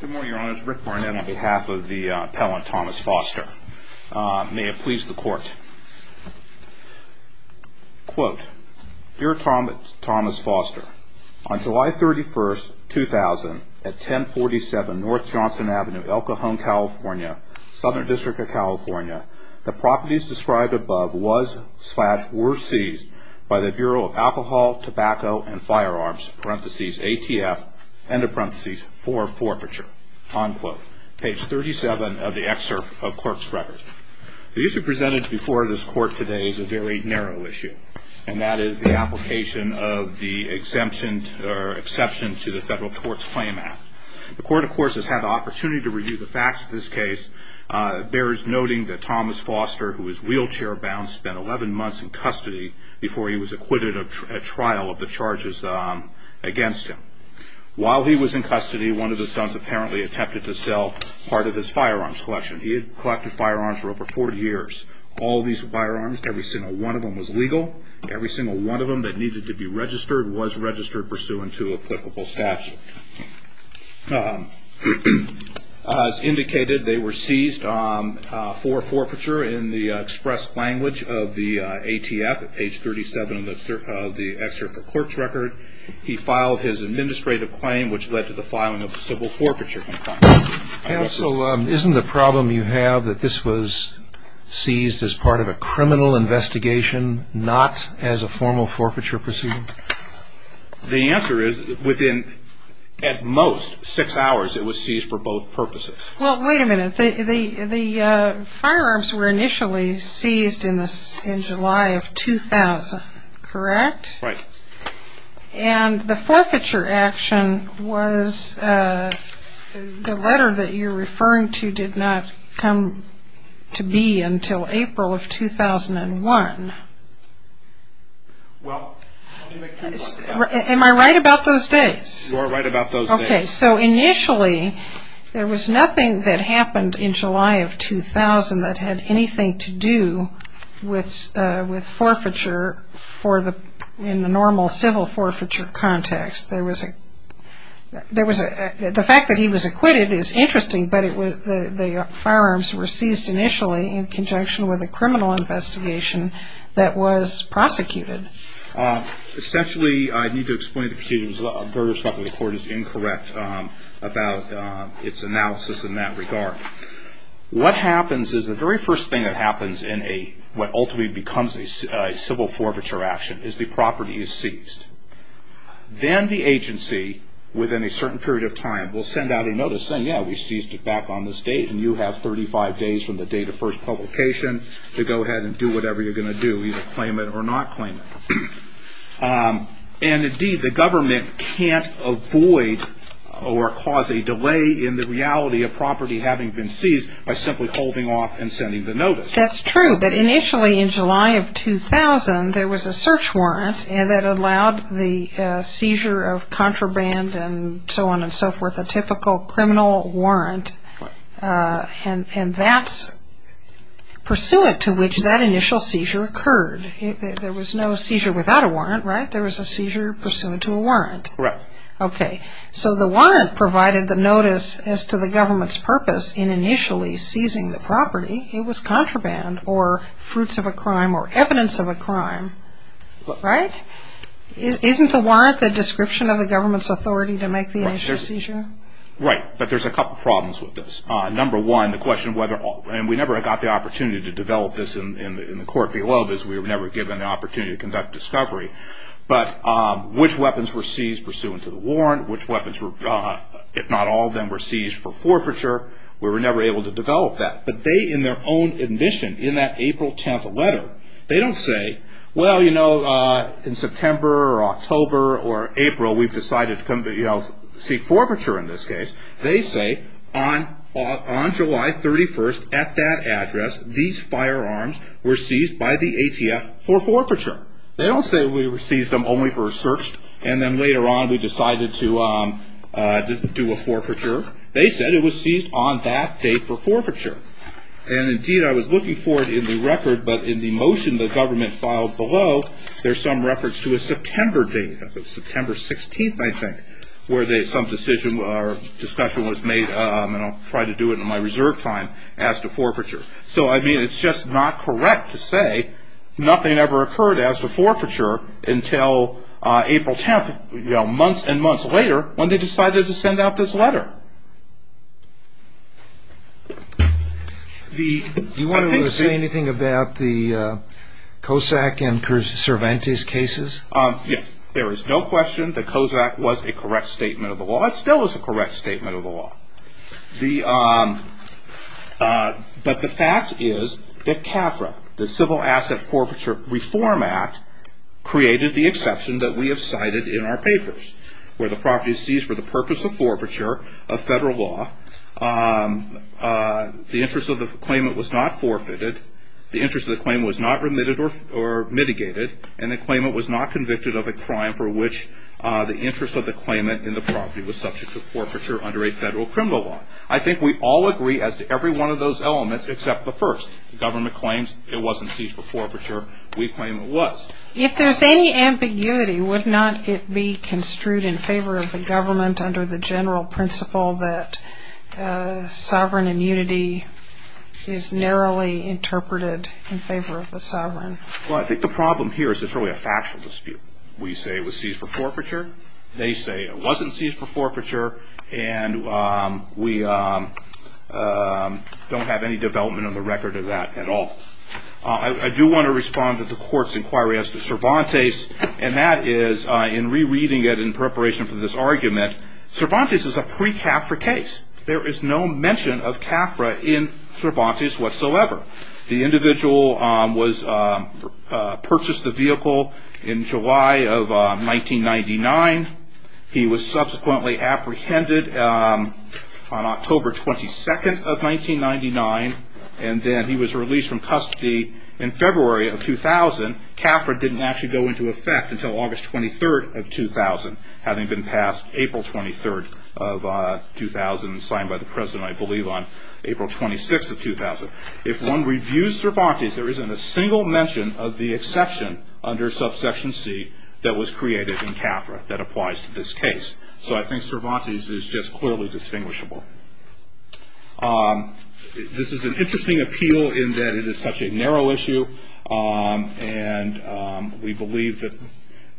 Good morning, Your Honors. Rick Barnett on behalf of the appellant, Thomas Foster. May it please the Court. Quote, Dear Thomas Foster, On July 31, 2000, at 1047 North Johnson Avenue, El Cajon, California, Southern District of California, the properties described above were seized by the Bureau of Alcohol, Tobacco, and Firearms, parentheses, ATF, end of parentheses, for forfeiture. Unquote. Page 37 of the excerpt of court's record. The issue presented before this court today is a very narrow issue, and that is the application of the exemption or exception to the Federal Courts Claim Act. The court, of course, has had the opportunity to review the facts of this case. It bears noting that Thomas Foster, who was wheelchair bound, spent 11 months in custody before he was acquitted at trial of the charges against him. While he was in custody, one of his sons apparently attempted to sell part of his firearms collection. He had collected firearms for over 40 years. All these firearms, every single one of them was legal. Every single one of them that needed to be registered was registered pursuant to applicable statute. As indicated, they were seized for forfeiture in the express language of the ATF, page 37 of the excerpt of court's record. He filed his administrative claim, which led to the filing of a civil forfeiture complaint. Counsel, isn't the problem you have that this was seized as part of a criminal investigation, not as a formal forfeiture proceeding? The answer is within, at most, six hours it was seized for both purposes. Well, wait a minute. The firearms were initially seized in July of 2000, correct? Right. And the forfeiture action was the letter that you're referring to did not come to be until April of 2001. Well, let me make sure you understand. Am I right about those dates? You are right about those dates. Okay, so initially there was nothing that happened in July of 2000 that had anything to do with forfeiture in the normal civil forfeiture context. The fact that he was acquitted is interesting, but the firearms were seized initially in conjunction with a criminal investigation that was prosecuted. Essentially, I need to explain the procedures. I'm very responsible. The court is incorrect about its analysis in that regard. What happens is the very first thing that happens in what ultimately becomes a civil forfeiture action is the property is seized. Then the agency, within a certain period of time, will send out a notice saying, yeah, we seized it back on this date, and you have 35 days from the date of first publication to go ahead and do whatever you're going to do, either claim it or not claim it. And, indeed, the government can't avoid or cause a delay in the reality of property having been seized by simply holding off and sending the notice. That's true, but initially in July of 2000, there was a search warrant that allowed the seizure of contraband and so on and so forth, a typical criminal warrant, and that's pursuant to which that initial seizure occurred. There was no seizure without a warrant, right? There was a seizure pursuant to a warrant. Correct. Okay. So the warrant provided the notice as to the government's purpose in initially seizing the property. It was contraband or fruits of a crime or evidence of a crime, right? Isn't the warrant the description of the government's authority to make the initial seizure? Right, but there's a couple problems with this. Number one, the question whether, and we never got the opportunity to develop this in the court below, because we were never given the opportunity to conduct discovery, but which weapons were seized pursuant to the warrant, which weapons were, if not all of them were seized for forfeiture, we were never able to develop that. But they, in their own admission, in that April 10th letter, they don't say, well, you know, in September or October or April we've decided to seek forfeiture in this case. They say on July 31st, at that address, these firearms were seized by the ATF for forfeiture. They don't say we seized them only for a search and then later on we decided to do a forfeiture. They said it was seized on that date for forfeiture. And, indeed, I was looking for it in the record, but in the motion the government filed below, there's some reference to a September date, September 16th, I think, where some decision or discussion was made, and I'll try to do it in my reserve time, as to forfeiture. So, I mean, it's just not correct to say nothing ever occurred as to forfeiture until April 10th, months and months later, when they decided to send out this letter. Do you want to say anything about the Kosak and Cervantes cases? Yes. There is no question that Kosak was a correct statement of the law. It still is a correct statement of the law. But the fact is that CAFRA, the Civil Asset Forfeiture Reform Act, created the exception that we have cited in our papers, where the property is seized for the purpose of forfeiture of federal law. The interest of the claimant was not forfeited. The interest of the claimant was not remitted or mitigated. And the claimant was not convicted of a crime for which the interest of the claimant in the property was subject to forfeiture under a federal criminal law. I think we all agree as to every one of those elements, except the first. The government claims it wasn't seized for forfeiture. We claim it was. If there's any ambiguity, would not it be construed in favor of the government under the general principle that sovereign immunity is narrowly interpreted in favor of the sovereign? Well, I think the problem here is it's really a factual dispute. We say it was seized for forfeiture. They say it wasn't seized for forfeiture. And we don't have any development on the record of that at all. I do want to respond to the court's inquiry as to Cervantes. And that is, in rereading it in preparation for this argument, Cervantes is a pre-CAFRA case. There is no mention of CAFRA in Cervantes whatsoever. The individual purchased the vehicle in July of 1999. He was subsequently apprehended on October 22nd of 1999. And then he was released from custody in February of 2000. CAFRA didn't actually go into effect until August 23rd of 2000, having been passed April 23rd of 2000 and signed by the president, I believe, on April 26th of 2000. If one reviews Cervantes, there isn't a single mention of the exception under subsection C that was created in CAFRA that applies to this case. So I think Cervantes is just clearly distinguishable. This is an interesting appeal in that it is such a narrow issue. And we believe that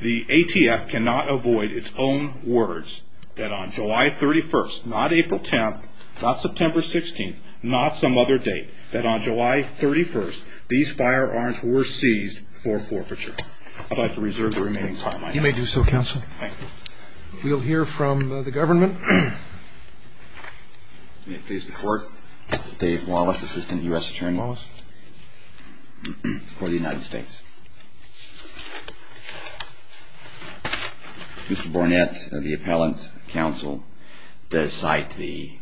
the ATF cannot avoid its own words that on July 31st, not April 10th, not September 16th, not some other date, that on July 31st, these firearms were seized for forfeiture. I'd like to reserve the remaining time I have. You may do so, counsel. Thank you. We'll hear from the government. May it please the Court. Dave Wallace, Assistant U.S. Attorney. Wallace. For the United States. Mr. Bournette of the Appellant's Counsel does cite the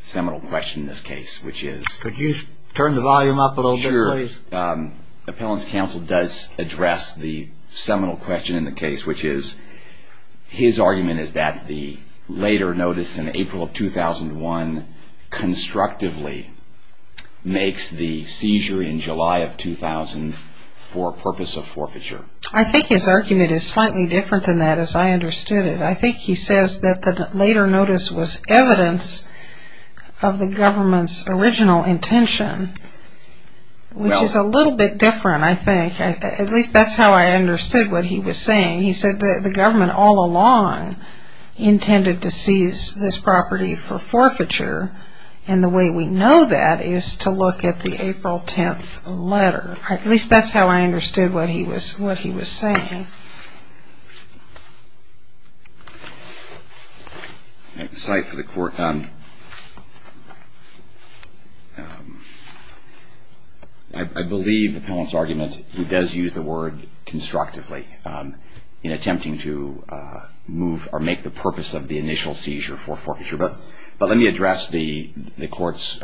seminal question in this case, which is. Could you turn the volume up a little bit, please? Appellant's Counsel does address the seminal question in the case, which is. His argument is that the later notice in April of 2001 constructively makes the seizure in July of 2000 for purpose of forfeiture. I think his argument is slightly different than that, as I understood it. I think he says that the later notice was evidence of the government's original intention. Which is a little bit different, I think. At least that's how I understood what he was saying. He said that the government all along intended to seize this property for forfeiture, and the way we know that is to look at the April 10th letter. At least that's how I understood what he was saying. Thank you. I have a cite for the Court. I believe Appellant's argument, he does use the word constructively in attempting to move or make the purpose of the initial seizure for forfeiture. But let me address the Court's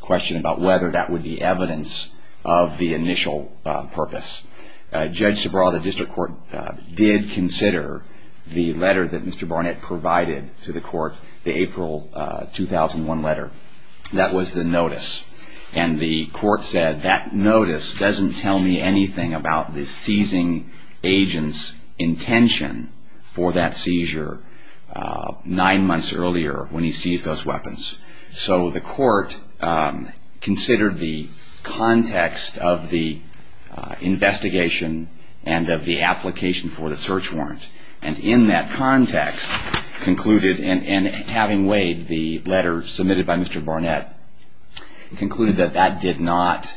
question about whether that would be evidence of the initial purpose. Judge Subraw of the District Court did consider the letter that Mr. Barnett provided to the Court, the April 2001 letter. That was the notice. And the Court said that notice doesn't tell me anything about the seizing agent's intention for that seizure nine months earlier when he seized those weapons. So the Court considered the context of the investigation and of the application for the search warrant. And in that context concluded, and having weighed the letter submitted by Mr. Barnett, concluded that that did not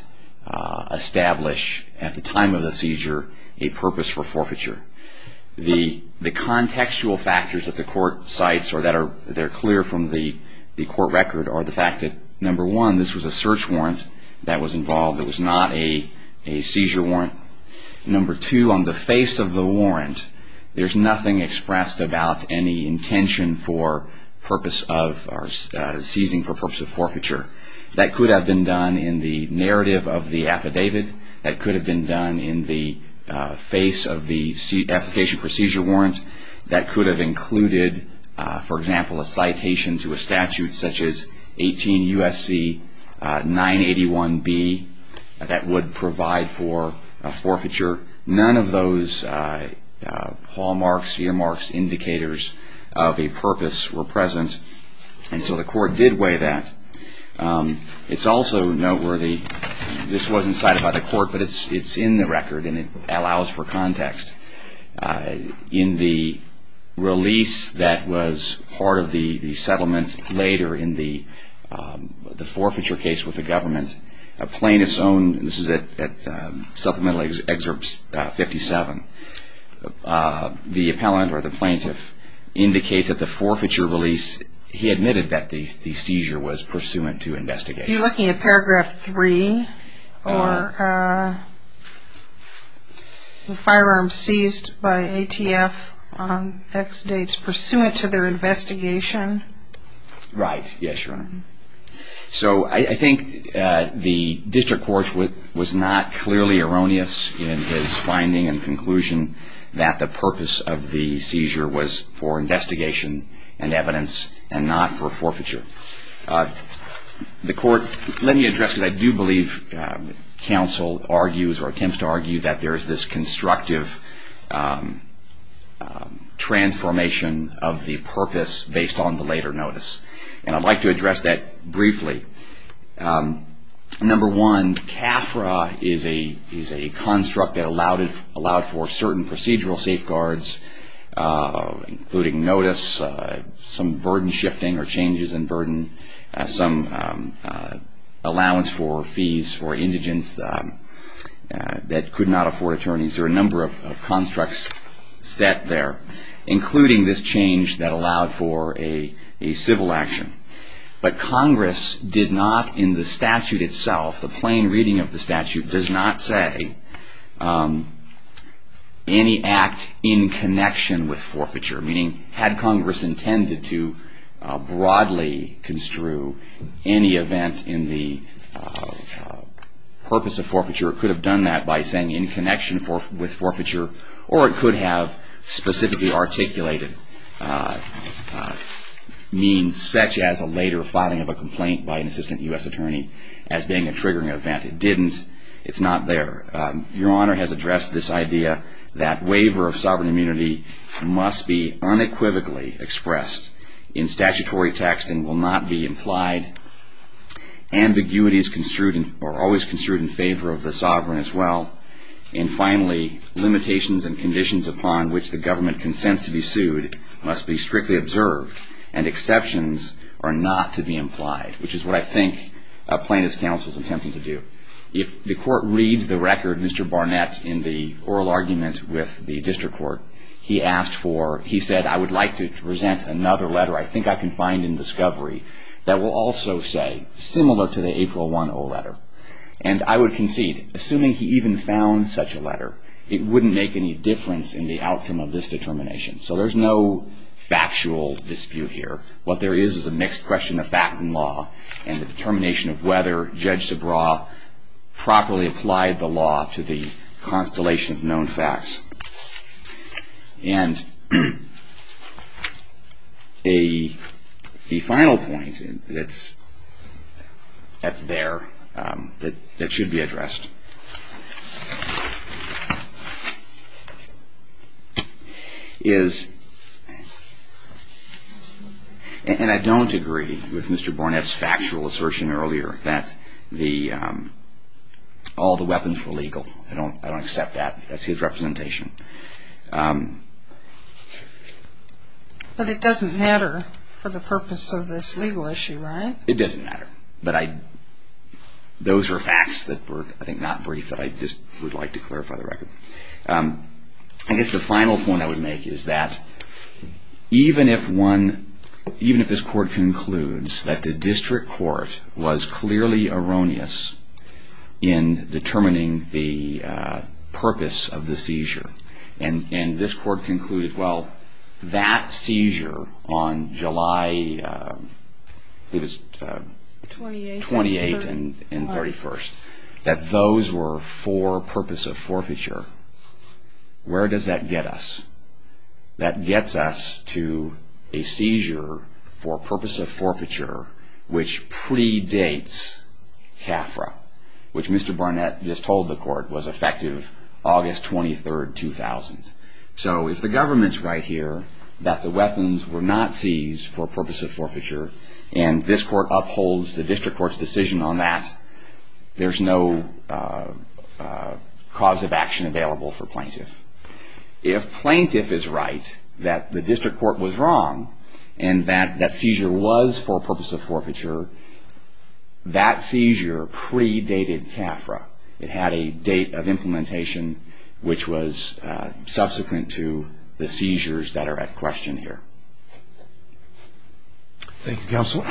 establish at the time of the seizure a purpose for forfeiture. The contextual factors that the Court cites, or that are clear from the Court record, are the fact that, number one, this was a search warrant that was involved. It was not a seizure warrant. Number two, on the face of the warrant, there's nothing expressed about any intention for seizing for purpose of forfeiture. That could have been done in the narrative of the affidavit. That could have been done in the face of the application procedure warrant. That could have included, for example, a citation to a statute such as 18 U.S.C. 981B that would provide for a forfeiture. None of those hallmarks, earmarks, indicators of a purpose were present. And so the Court did weigh that. It's also noteworthy, this wasn't cited by the Court, but it's in the record and it allows for context. In the release that was part of the settlement later in the forfeiture case with the government, a plaintiff's own, this is at Supplemental Excerpt 57, the appellant, or the plaintiff, indicates that the forfeiture release, he admitted that the seizure was pursuant to investigation. You're looking at Paragraph 3, or the firearm seized by ATF on X dates pursuant to their investigation? Right, yes, Your Honor. So I think the District Court was not clearly erroneous in his finding and conclusion that the purpose of the seizure was for investigation and evidence and not for forfeiture. The Court, let me address this. I do believe counsel argues or attempts to argue that there is this constructive transformation of the purpose based on the later notice. And I'd like to address that briefly. Number one, CAFRA is a construct that allowed for certain procedural safeguards, including notice, some burden shifting or changes in burden, some allowance for fees for indigents that could not afford attorneys. There are a number of constructs set there, including this change that allowed for a civil action. But Congress did not, in the statute itself, the plain reading of the statute, does not say any act in connection with forfeiture. Meaning, had Congress intended to broadly construe any event in the purpose of forfeiture, it could have done that by saying in connection with forfeiture. Or it could have specifically articulated means, such as a later filing of a complaint by an assistant U.S. attorney, as being a triggering event. It didn't. It's not there. Your Honor has addressed this idea that waiver of sovereign immunity must be unequivocally expressed in statutory text and will not be implied. Ambiguities are always construed in favor of the sovereign as well. And finally, limitations and conditions upon which the government consents to be sued must be strictly observed. And exceptions are not to be implied, which is what I think a plaintiff's counsel is attempting to do. If the court reads the record, Mr. Barnett's in the oral argument with the district court, he asked for, he said, I would like to present another letter I think I can find in discovery that will also say, similar to the April 1 letter. And I would concede, assuming he even found such a letter, it wouldn't make any difference in the outcome of this determination. So there's no factual dispute here. What there is is a mixed question of fact and law. And the determination of whether Judge Subraw properly applied the law to the constellation of known facts. And the final point that's there that should be addressed is, and I don't agree with Mr. Barnett's factual assertion earlier that all the weapons were legal. I don't accept that. That's his representation. But it doesn't matter for the purpose of this legal issue, right? It doesn't matter. But those were facts that were, I think, not brief that I just would like to clarify the record. I guess the final point I would make is that even if this court concludes that the district court was clearly erroneous in determining the purpose of the seizure. And this court concluded, well, that seizure on July 28th and 31st, that those were for purpose of forfeiture. Where does that get us? That gets us to a seizure for purpose of forfeiture, which predates CAFRA, which Mr. Barnett just told the court was effective August 23rd, 2000. So if the government's right here that the weapons were not seized for purpose of forfeiture, and this court upholds the district court's decision on that, there's no cause of action available for plaintiff. If plaintiff is right that the district court was wrong and that seizure was for purpose of forfeiture, that seizure predated CAFRA. It had a date of implementation which was subsequent to the seizures that are at question here. Thank you, counsel.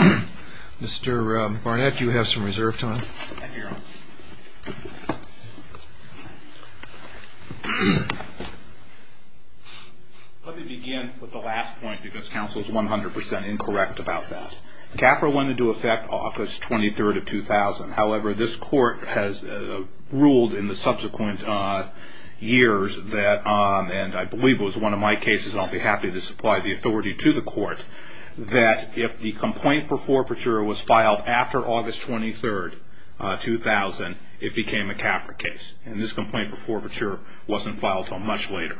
Mr. Barnett, you have some reserve time. Thank you, Your Honor. Let me begin with the last point because counsel is 100% incorrect about that. CAFRA wanted to affect August 23rd of 2000. However, this court has ruled in the subsequent years that, and I believe it was one of my cases, I'll be happy to supply the authority to the court, that if the complaint for forfeiture was filed after August 23rd, 2000, it became a CAFRA case. And this complaint for forfeiture wasn't filed until much later.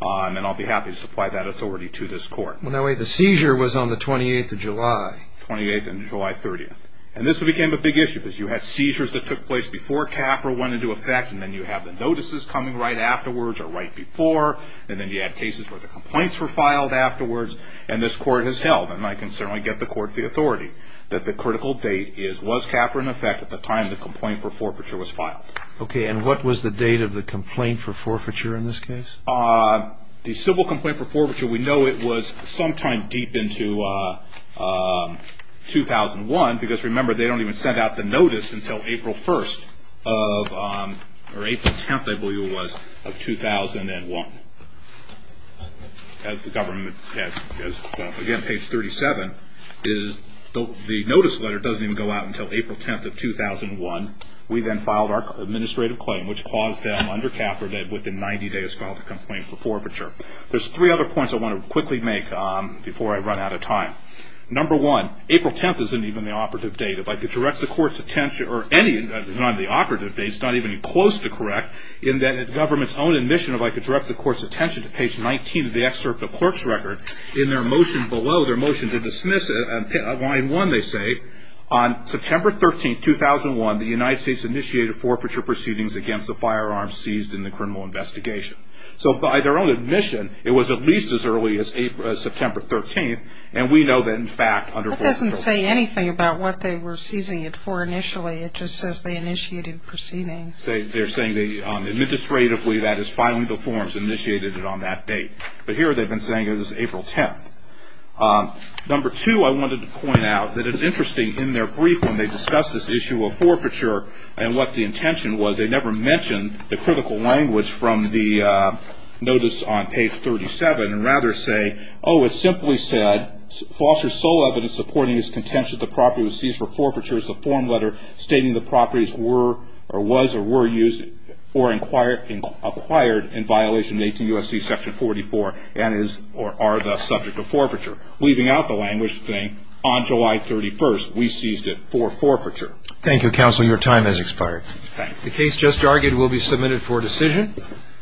And I'll be happy to supply that authority to this court. The seizure was on the 28th of July. 28th and July 30th. And this became a big issue because you had seizures that took place before CAFRA went into effect, and then you have the notices coming right afterwards or right before, and then you had cases where the complaints were filed afterwards. And this court has held, and I can certainly get the court the authority, that the critical date was CAFRA in effect at the time the complaint for forfeiture was filed. Okay. And what was the date of the complaint for forfeiture in this case? The civil complaint for forfeiture, we know it was sometime deep into 2001 because, remember, they don't even send out the notice until April 1st of, or April 10th, I believe it was, of 2001. As the government, again, page 37, the notice letter doesn't even go out until April 10th of 2001. We then filed our administrative claim, which caused them, under CAFRA, that within 90 days filed a complaint for forfeiture. There's three other points I want to quickly make before I run out of time. Number one, April 10th isn't even the operative date. If I could direct the court's attention, or any, it's not even the operative date, it's not even close to correct, in that the government's own admission, if I could direct the court's attention to page 19 of the excerpt of the clerk's record, in their motion below, their motion to dismiss it, line one, they say, on September 13th, 2001, the United States initiated forfeiture proceedings against the firearms seized in the criminal investigation. So by their own admission, it was at least as early as September 13th, and we know that, in fact, under forfeiture. That doesn't say anything about what they were seizing it for initially. It just says they initiated proceedings. They're saying they, administratively, that is filing the forms, initiated it on that date. But here, they've been saying it was April 10th. Number two, I wanted to point out that it's interesting, in their brief, when they discuss this issue of forfeiture and what the intention was, they never mention the critical language from the notice on page 37, and rather say, oh, it simply said, false or sole evidence supporting his contention that the property was seized for forfeiture is the form letter stating the properties were or was or were used or acquired in violation of 18 U.S.C. section 44 and are thus subject to forfeiture. Leaving out the language thing, on July 31st, we seized it for forfeiture. Thank you, counsel. Your time has expired. The case just argued will be submitted for decision.